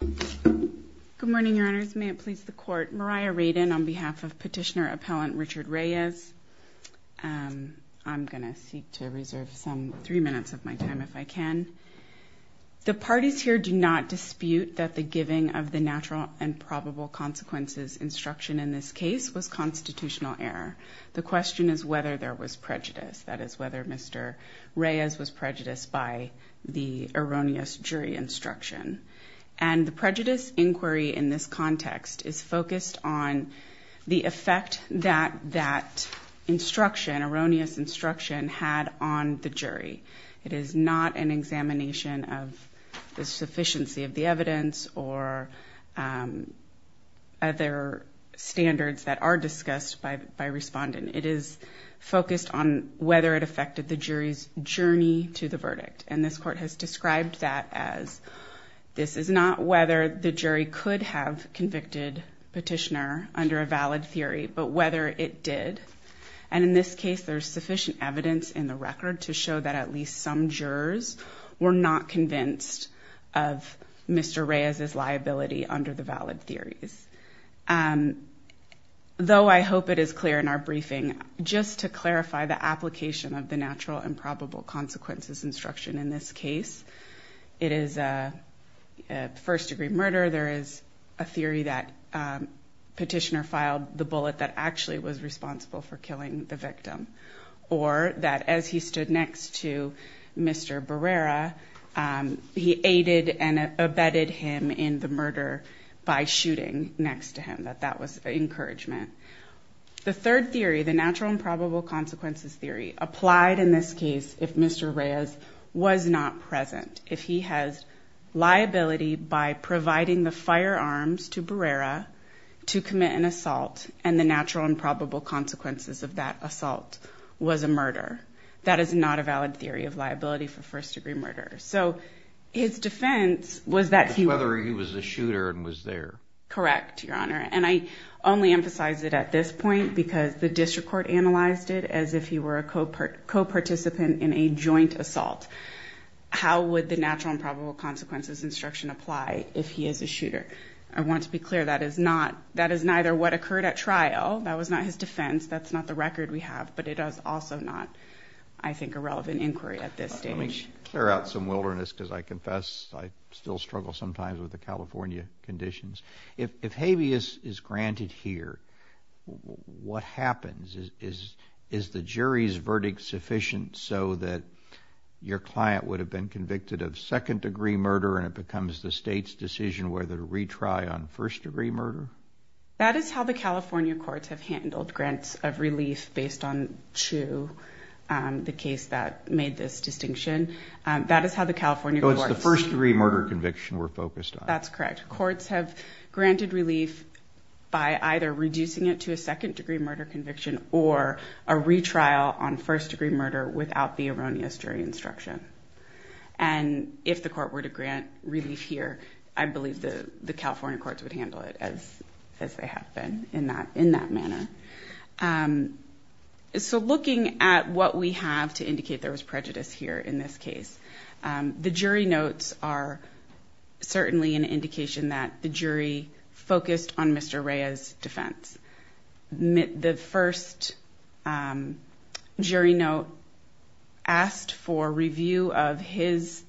Good morning, your honors. May it please the court. Mariah Radin on behalf of petitioner appellant Richard Reyes. I'm going to seek to reserve some three minutes of my time if I can. The parties here do not dispute that the giving of the natural and probable consequences instruction in this case was constitutional error. The question is whether there was prejudice. That is whether Mr. Reyes was prejudiced by the erroneous jury instruction. And the prejudice inquiry in this context is focused on the effect that that instruction, erroneous instruction, had on the jury. It is not an examination of the sufficiency of the evidence or other standards that are discussed by respondent. It is focused on whether it affected the jury's journey to the verdict. And this court has described that as this is not whether the jury could have convicted petitioner under a valid theory, but whether it did. And in this case, there's sufficient evidence in the record to show that at least some jurors were not convinced of Mr. Reyes's liability under the valid theories. Though I hope it is clear in our briefing, just to clarify the application of the natural and probable consequences instruction in this case, it is a first degree murder. There is a theory that petitioner filed the bullet that actually was responsible for killing the victim. Or that as he stood next to Mr. Barrera, he aided and abetted him in the murder by shooting next to him. That that was an encouragement. The third theory, the natural and probable consequences theory, applied in this case if Mr. Reyes was not present. If he has liability by providing the firearms to Barrera to commit an assault, and the natural and probable consequences of that assault was a murder. That is not a valid theory of liability for first degree murder. So his defense was that he was a shooter and was there. Correct, Your Honor. And I only emphasize it at this point because the district court analyzed it as if he were a co-participant in a joint assault. How would the natural and probable consequences instruction apply if he is a shooter? I want to be clear that is not, that is neither what occurred at trial. That was not his defense. That's not the record we have. But it is also not, I think, a relevant inquiry at this stage. Let me clear out some wilderness because I confess I still struggle sometimes with the California conditions. If habeas is granted here, what happens? Is the jury's verdict sufficient so that your client would have been convicted of second degree murder and it becomes the state's decision whether to The California courts have handled grants of relief based on two, the case that made this distinction. That is how the California courts... So it's the first degree murder conviction we're focused on. That's correct. Courts have granted relief by either reducing it to a second degree murder conviction or a retrial on first degree murder without the erroneous jury instruction. And if the court were to grant relief here, I believe the California courts would handle it as they have been in that manner. So looking at what we have to indicate there was prejudice here in this case, the jury notes are certainly an indication that the jury focused on Mr. Reyes' defense. The first jury note asked for review of his,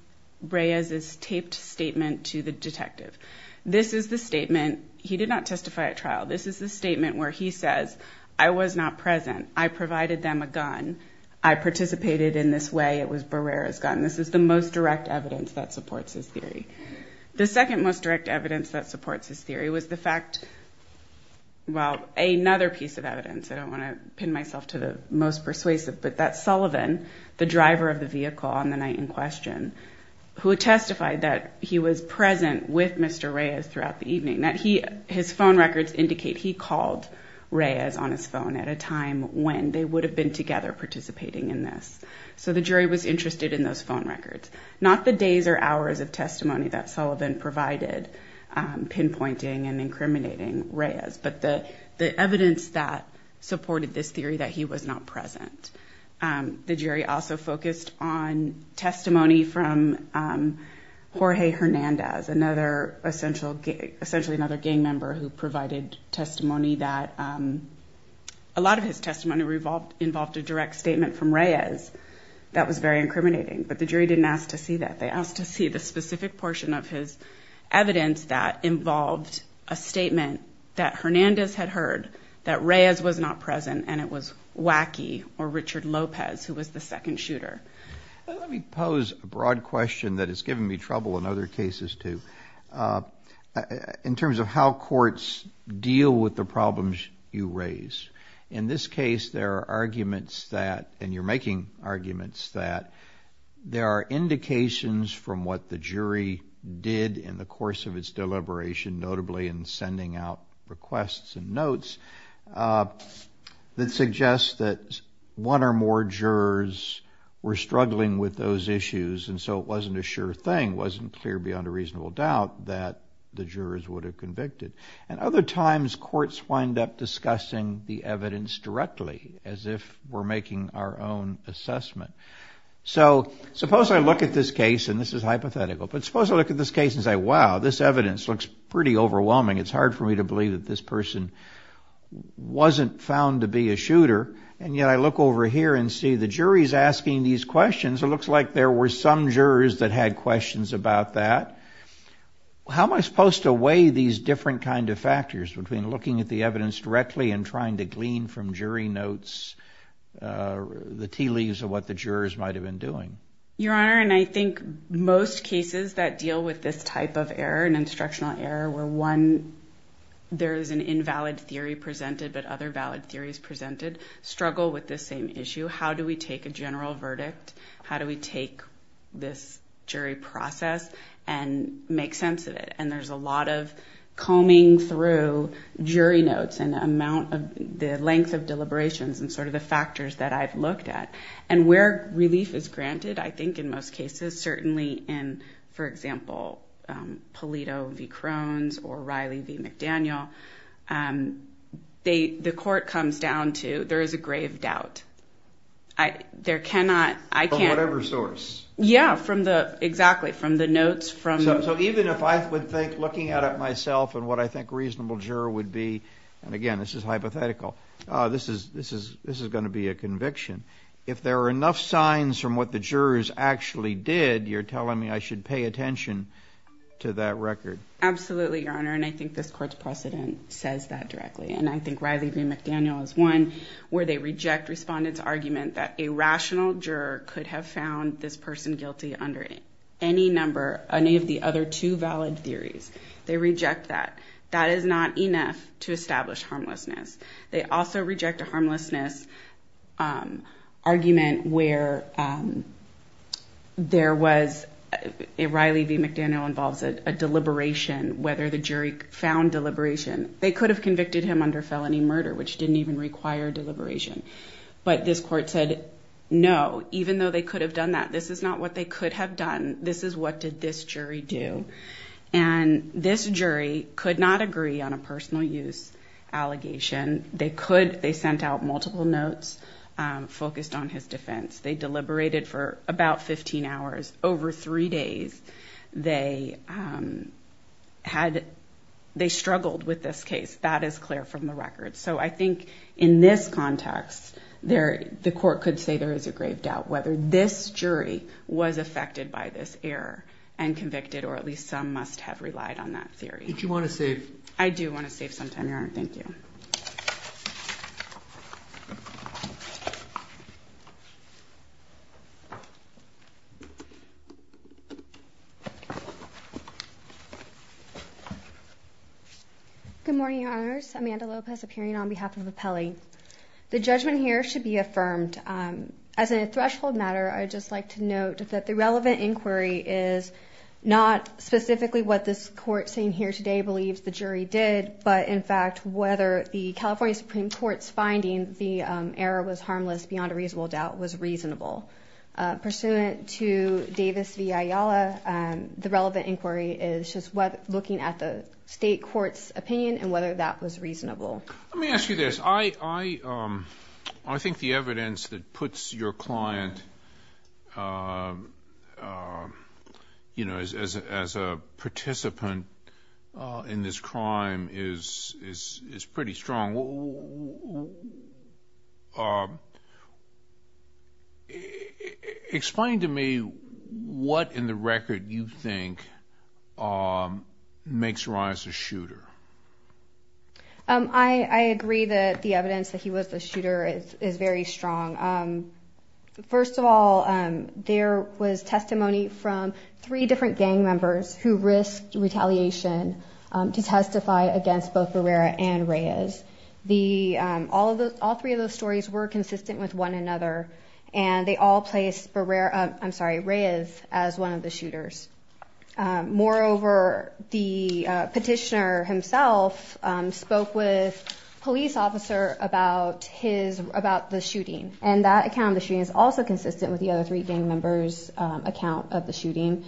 Reyes' taped statement to the detective. This is the statement, he did not testify at trial. This is the statement where he says, I was not present. I provided them a gun. I participated in this way. It was Barrera's gun. This is the most direct evidence that supports his theory. The second most direct evidence that supports his theory was the fact... Well, another piece of evidence. I don't want to pin myself to the most persuasive, but that Sullivan, the driver of the vehicle on the night in question, who testified that he was present with Mr. Reyes throughout the evening, that his phone records indicate he called Reyes on his phone at a time when they would have been together participating in this. So the jury was interested in those phone records, not the days or hours of testimony that Sullivan provided pinpointing and incriminating Reyes, but the evidence that also focused on testimony from Jorge Hernandez, essentially another gang member who provided testimony that... A lot of his testimony involved a direct statement from Reyes that was very incriminating, but the jury didn't ask to see that. They asked to see the specific portion of his evidence that involved a statement that Hernandez had heard that Reyes was not who was the second shooter. Let me pose a broad question that has given me trouble in other cases too. In terms of how courts deal with the problems you raise, in this case, there are arguments that and you're making arguments that there are indications from what the jury did in the course of its deliberation, notably in sending out requests and notes that suggest that one or more jurors were struggling with those issues and so it wasn't a sure thing, wasn't clear beyond a reasonable doubt that the jurors would have convicted. And other times, courts wind up discussing the evidence directly as if we're making our own assessment. So suppose I look at this case, and this is hypothetical, but suppose I look at this case and say, wow, this evidence looks pretty overwhelming. It's hard for me to believe that this person wasn't found to be a and see the jury's asking these questions. It looks like there were some jurors that had questions about that. How am I supposed to weigh these different kind of factors between looking at the evidence directly and trying to glean from jury notes the tea leaves of what the jurors might have been doing? Your Honor, and I think most cases that deal with this type of error, an instructional error, where one, there is an invalid theory presented, but other valid theories presented struggle with the same issue. How do we take a general verdict? How do we take this jury process and make sense of it? And there's a lot of combing through jury notes and amount of the length of deliberations and sort of the factors that I've looked at. And where relief is granted, I think in most cases, certainly in, for example, Polito v. Crones or Riley v. McDaniel, um, they, the court comes down to, there is a grave doubt. I, there cannot, I can't... From whatever source. Yeah, from the, exactly, from the notes, from... So even if I would think looking at it myself and what I think reasonable juror would be, and again, this is hypothetical, uh, this is, this is, this is going to be a conviction. If there are enough signs from what the jurors actually did, you're telling me I should pay attention to that record. Absolutely, Your Honor. And I think this court's precedent says that directly. And I think Riley v. McDaniel is one where they reject respondent's argument that a rational juror could have found this person guilty under any number, any of the other two valid theories. They reject that. That is not enough to establish harmlessness. They also reject a harmlessness, um, argument where, um, there was, Riley v. McDaniel involves a deliberation, whether the jury found deliberation. They could have convicted him under felony murder, which didn't even require deliberation. But this court said, no, even though they could have done that, this is not what they could have done. This is what did this jury do. And this jury could not agree on a personal use allegation. They could, they sent out multiple notes, um, focused on his defense. They deliberated for about 15 hours. Over three days, they, um, had, they struggled with this case. That is clear from the record. So I think in this context, there, the court could say there is a grave doubt whether this jury was affected by this error and convicted, or at least some must have relied on that theory. Did you want to save? I do want to save some time, Your Honor. Thank you. Okay. Good morning, Your Honors. Amanda Lopez appearing on behalf of the Pele. The judgment here should be affirmed. Um, as a threshold matter, I just like to note that the relevant inquiry is not specifically what this court saying here today believes the jury did, but in fact, whether the California Supreme Court's finding the, um, error was harmless beyond a reasonable doubt was reasonable, uh, pursuant to Davis v. Ayala. Um, the relevant inquiry is just what looking at the state court's opinion and whether that was reasonable. Let me ask you this. I, I, um, I think the evidence that puts your client, um, um, you know, as, as a, as a participant, uh, in this crime is, is, is pretty strong. Um, explain to me what in the record you think, um, makes Ron as a shooter. Um, I, I agree that the evidence that he was a shooter is very strong. Um, first of all, um, there was testimony from three different gang members who risked retaliation, um, to testify against both Barrera and Reyes. The, um, all of those, all three of those stories were consistent with one another and they all placed Barrera, I'm sorry, Reyes as one of the shooters. Um, moreover, the, uh, petitioner himself, um, spoke with police officer about his, about the shooting and that account of the shooting is also consistent with the other three gang members, um, account of the shooting.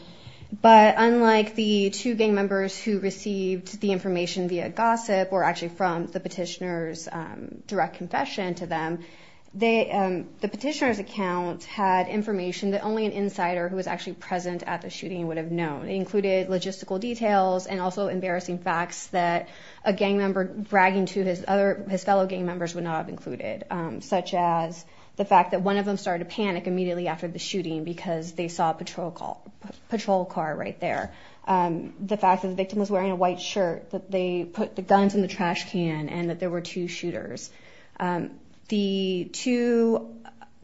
But unlike the two gang members who received the information via gossip or actually from the petitioner's, um, direct confession to them, they, um, the petitioner's account had information that only an insider who was actually present at the shooting would have known. It included logistical details and also embarrassing facts that a gang member bragging to his other, his fellow gang members would not have included, um, such as the fact that one of them started to panic immediately after the shooting because they saw a patrol call, patrol car right there. Um, the fact that the victim was wearing a white shirt, that they put the guns in the trash can and that there were two shooters. Um, the two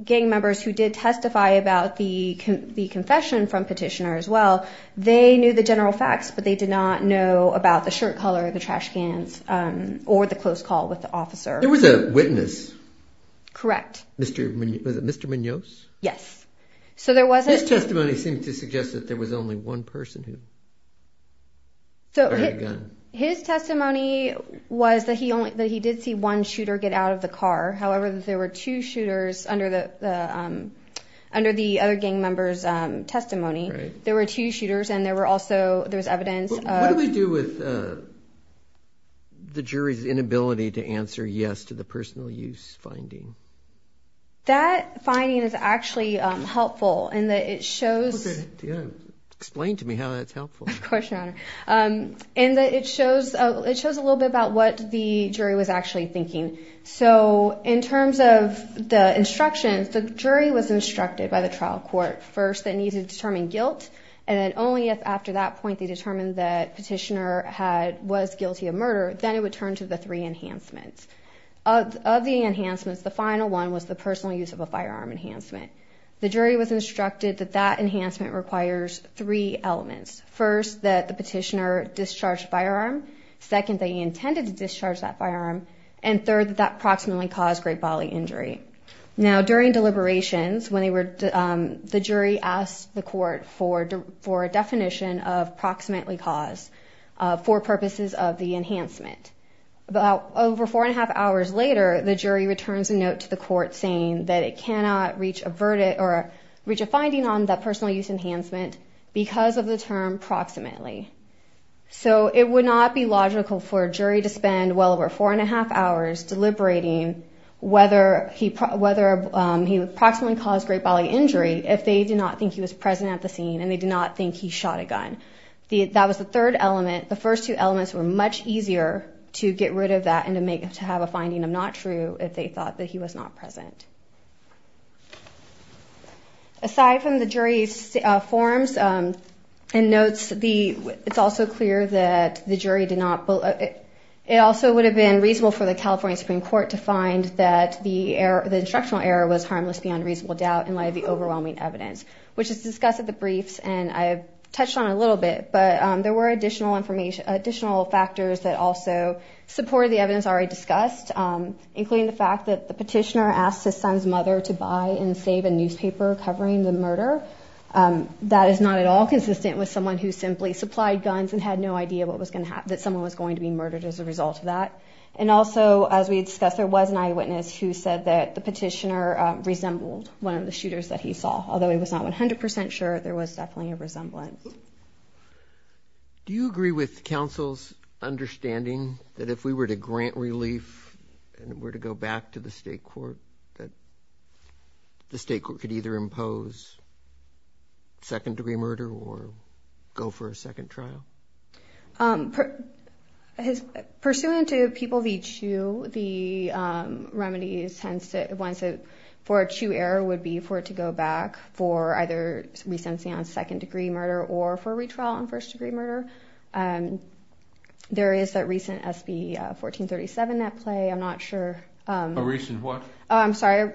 gang members who did testify about the, the confession from petitioner as well, they knew the general facts, but they did not know about the shirt color, the trash cans, um, or the close call with the officer. There was a witness. Correct. Mr. Munoz, was it Mr. Munoz? Yes. So there wasn't... His testimony seemed to suggest that there was only one person who had a gun. His testimony was that he only, that he did see one shooter get out of the car. However, there were two shooters under the, um, under the other gang members, um, testimony. There were two shooters and there were also, there was evidence of... What do we do with, uh, the jury's inability to answer yes to the personal use finding? That finding is actually, um, helpful in that it shows... Explain to me how that's helpful. Of course, Your Honor. Um, and that it shows, it shows a little bit about what the jury was actually thinking. So in terms of the instructions, the jury was instructed by the trial court first that needed to determine guilt. And then only if after that point they determined that petitioner had, was guilty of murder, then it would turn to the three enhancements. Of the enhancements, the final one was the personal use of a firearm enhancement. The jury was instructed that that enhancement requires three elements. First, that the petitioner discharged firearm. Second, they intended to discharge that firearm. And third, that approximately caused great bodily injury. Now, during deliberations, when they were, um, the jury asked the court for, for a definition of approximately cause, uh, for purposes of the enhancement. About over four and a half hours later, the jury returns a note to the court saying that it cannot reach a verdict or reach a finding on that personal use enhancement because of the term approximately. So it would not be logical for a jury to spend well over four and a half hours deliberating whether he, whether, um, he approximately caused great bodily injury if they did not think he was present at the scene and they did not think he shot a gun. The, that was the third element. The first two elements were much easier to get rid of that and to make, to have a finding of not true if they thought that he was not present. Aside from the jury's, uh, forms, um, and notes, the, it's also clear that the jury did not, it also would have been reasonable for the California Supreme Court to find that the error, the instructional error was harmless beyond reasonable doubt in light of the overwhelming evidence, which is discussed at the briefs. And I've touched on a little bit, but, um, there were additional information, additional factors that also supported the evidence already discussed, um, including the fact that the petitioner asked his son's mother to buy and save a newspaper covering the murder. Um, that is not at all consistent with someone who simply supplied guns and had no idea what was going to happen, that someone was going to be murdered as a result of that. And also, as we discussed, there was an eyewitness who said that the petitioner, um, although he was not 100% sure, there was definitely a resemblance. Do you agree with counsel's understanding that if we were to grant relief and were to go back to the state court, that the state court could either impose second degree murder or go for a second trial? Um, pursuant to people of each shoe, the, um, remedies tends to, for a true error would be for it to go back for either recency on second degree murder or for retrial on first degree murder. Um, there is that recent SB, uh, 1437 at play. I'm not sure. A recent what? Oh, I'm sorry.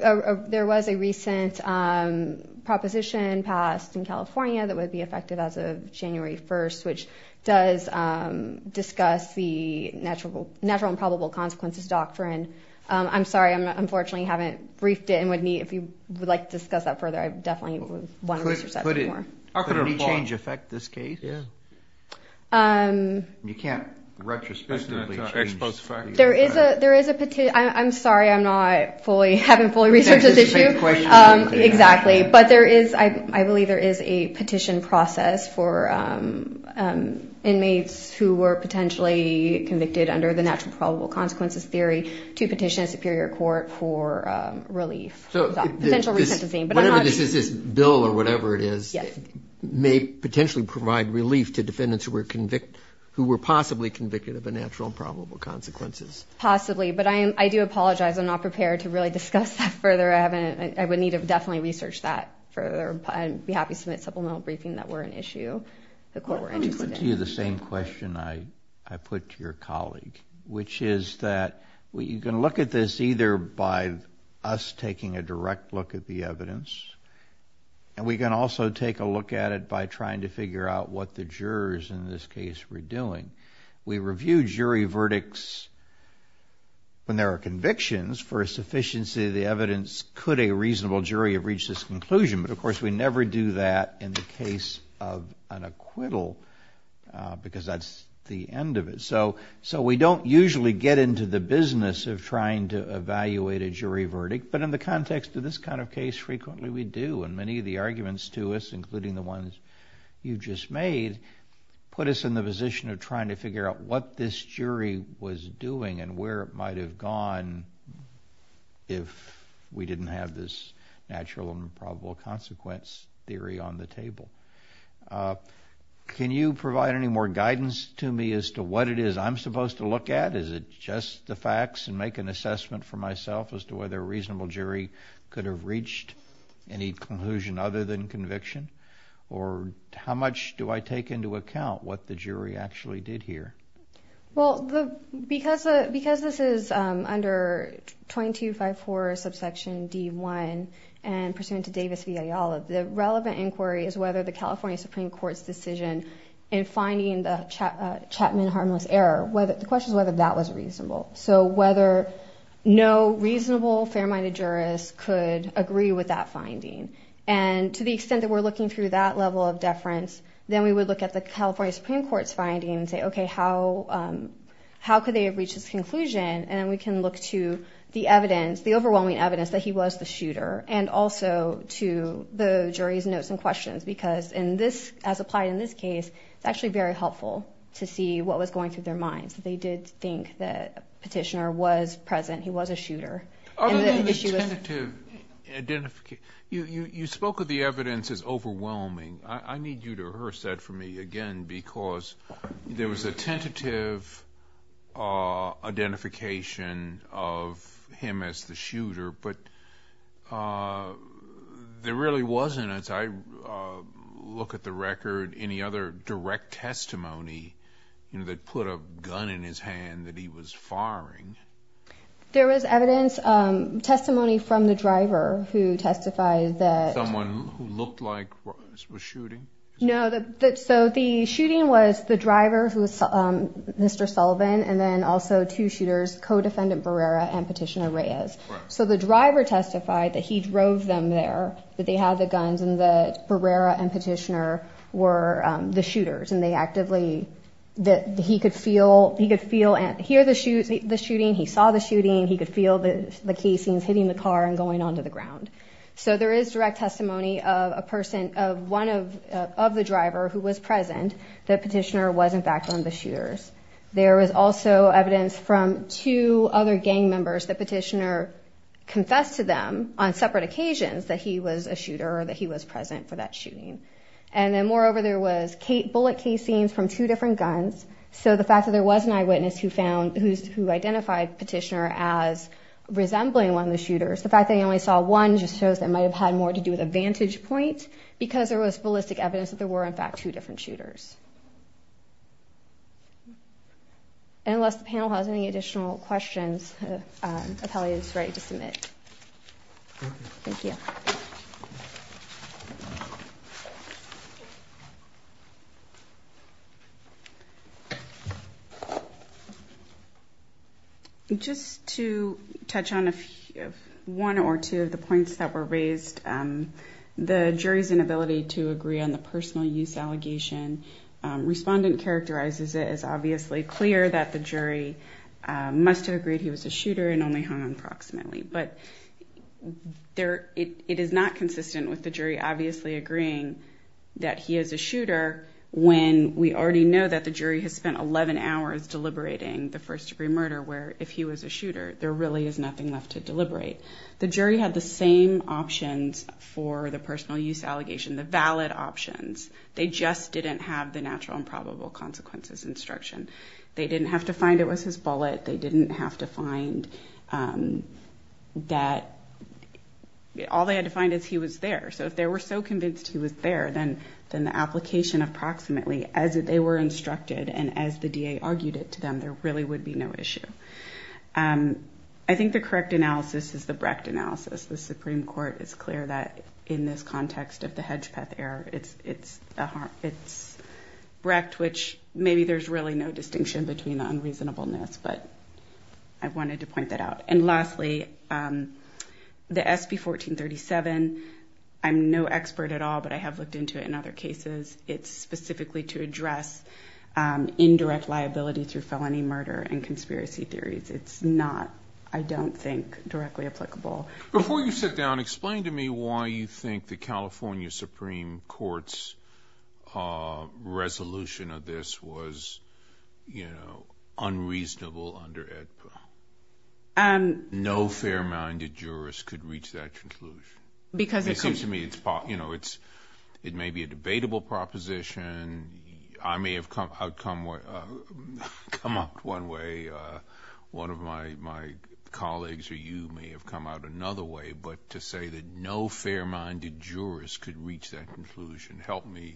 There was a recent, um, proposition passed in California that would be effective as of January 1st, which does, um, discuss the natural, natural and probable consequences doctrine. Um, I'm sorry. I'm not, unfortunately haven't briefed it and would need, if you would like to discuss that further, I definitely wouldn't want to research that anymore. Could a change affect this case? Um. You can't retrospectively change. There is a, there is a, I'm sorry. I'm not fully, haven't fully researched this issue. Exactly. But there is, I, I believe there is a petition process for, um, um, inmates who were to petition a superior court for, um, relief. So this, this bill or whatever it is may potentially provide relief to defendants who were convicted, who were possibly convicted of a natural and probable consequences. Possibly. But I am, I do apologize. I'm not prepared to really discuss that further. I haven't, I would need to definitely research that further and be happy to submit supplemental briefing that were an issue the court were interested in. The same question I, I put to your colleague, which is that we, you can look at this either by us taking a direct look at the evidence, and we can also take a look at it by trying to figure out what the jurors in this case were doing. We review jury verdicts when there are convictions for a sufficiency of the evidence. Could a reasonable jury have reached this conclusion? But of course, we never do that in the case of an acquittal, uh, because that's the end of it. So, so we don't usually get into the business of trying to evaluate a jury verdict. But in the context of this kind of case, frequently we do. And many of the arguments to us, including the ones you just made, put us in the position of trying to figure out what this jury was doing and where it might have gone if we didn't have this natural and probable consequence theory on the table. Can you provide any more guidance to me as to what it is I'm supposed to look at? Is it just the facts and make an assessment for myself as to whether a reasonable jury could have reached any conclusion other than conviction? Or how much do I take into account what the jury actually did here? Well, because this is under 2254 subsection D1 and pursuant to Davis v. Ayala, the relevant inquiry is whether the California Supreme Court's decision in finding the Chapman harmless error, the question is whether that was reasonable. So whether no reasonable, fair-minded jurist could agree with that finding. And to the extent that we're looking through that level of deference, then we would look at the California Supreme Court's findings and say, okay, how could they have reached this conclusion? And then we can look to the evidence, the overwhelming evidence that he was the shooter and also to the jury's notes and questions. Because in this, as applied in this case, it's actually very helpful to see what was going through their minds. They did think that Petitioner was present, he was a shooter. Other than the tentative identification, you spoke of the evidence as overwhelming. I need you to rehearse that for me again, because there was a tentative identification of him as the shooter, but there really wasn't, as I look at the record, any other direct testimony that put a gun in his hand that he was firing. There was evidence, testimony from the driver who testified that... No, so the shooting was the driver, who was Mr. Sullivan, and then also two shooters, co-defendant Barrera and Petitioner Reyes. So the driver testified that he drove them there, that they had the guns, and that Barrera and Petitioner were the shooters. And they actively, that he could feel, he could hear the shooting, he saw the shooting, he could feel the casings hitting the car and going onto the ground. So there is direct testimony of a person, of one of the driver who was present, that Petitioner was in fact one of the shooters. There was also evidence from two other gang members that Petitioner confessed to them on separate occasions that he was a shooter or that he was present for that shooting. And then moreover, there was bullet casings from two different guns. So the fact that there was an eyewitness who identified Petitioner as resembling one of the shooters, that might have had more to do with a vantage point, because there was ballistic evidence that there were in fact two different shooters. And unless the panel has any additional questions, the appellee is ready to submit. Thank you. Just to touch on one or two of the points that were raised, the jury's inability to agree on the personal use allegation, respondent characterizes it as obviously clear that the jury must have agreed he was a shooter and only hung on proximately. It is not consistent with the jury obviously agreeing that he is a shooter when we already know that the jury has spent 11 hours deliberating the first degree murder, where if he was a shooter, there really is nothing left to deliberate. The jury had the same options for the personal use allegation, the valid options. They just didn't have the natural and probable consequences instruction. They didn't have to find it was his bullet. They didn't have to find that all they had to find is he was there. So if they were so convinced he was there, then the application of proximately as they were instructed and as the DA argued it to them, there really would be no issue. I think the correct analysis is the Brecht analysis. The Supreme Court is clear that in this context of the Hedgepeth error, it's Brecht, which maybe there's really no distinction between the unreasonableness, but I wanted to point that out. Lastly, the SB 1437, I'm no expert at all, but I have looked into it in other cases. It's specifically to address indirect liability through felony murder and conspiracy theories. It's not, I don't think, directly applicable. Before you sit down, explain to me why you think the California Supreme Court's resolution of this was unreasonable under AEDPA. No fair-minded jurist could reach that conclusion. It seems to me it may be a debatable proposition. I may have come up one way, one of my colleagues or you may have come out another way, but to say that no fair-minded jurist could reach that conclusion helped me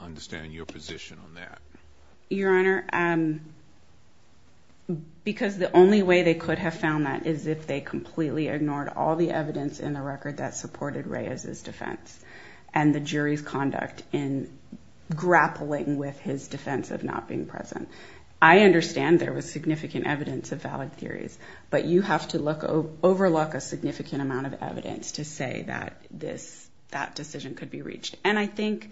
understand your position on that. Your Honor, because the only way they could have found that is if they completely ignored all the evidence in the record that supported Reyes's defense and the jury's conduct in grappling with his defense of not being present. I understand there was significant evidence of valid theories, but you have to overlook a significant amount of evidence to say that this, that decision could be reached. I think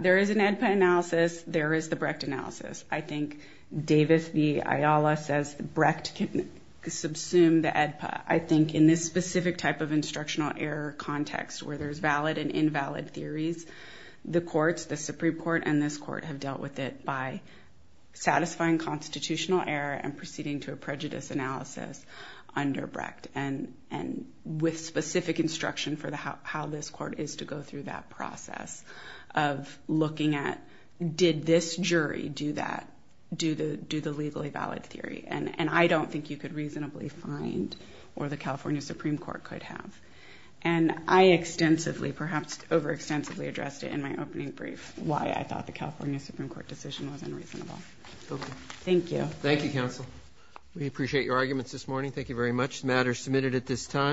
there is an AEDPA analysis, there is the Brecht analysis. I think Davis v. Ayala says Brecht can subsume the AEDPA. I think in this specific type of instructional error context where there's valid and invalid theories, the courts, the Supreme Court and this court have dealt with it by satisfying constitutional error and proceeding to a prejudice analysis under Brecht and with specific instruction for how this court is to go through that process of looking at did this jury do that, do the legally valid theory. And I don't think you could reasonably find or the California Supreme Court could have. And I extensively, perhaps overextensively addressed it in my opening brief why I thought the California Supreme Court decision was unreasonable. Okay. Thank you. Thank you, counsel. We appreciate your arguments this morning. Thank you very much. The matter is submitted at this time.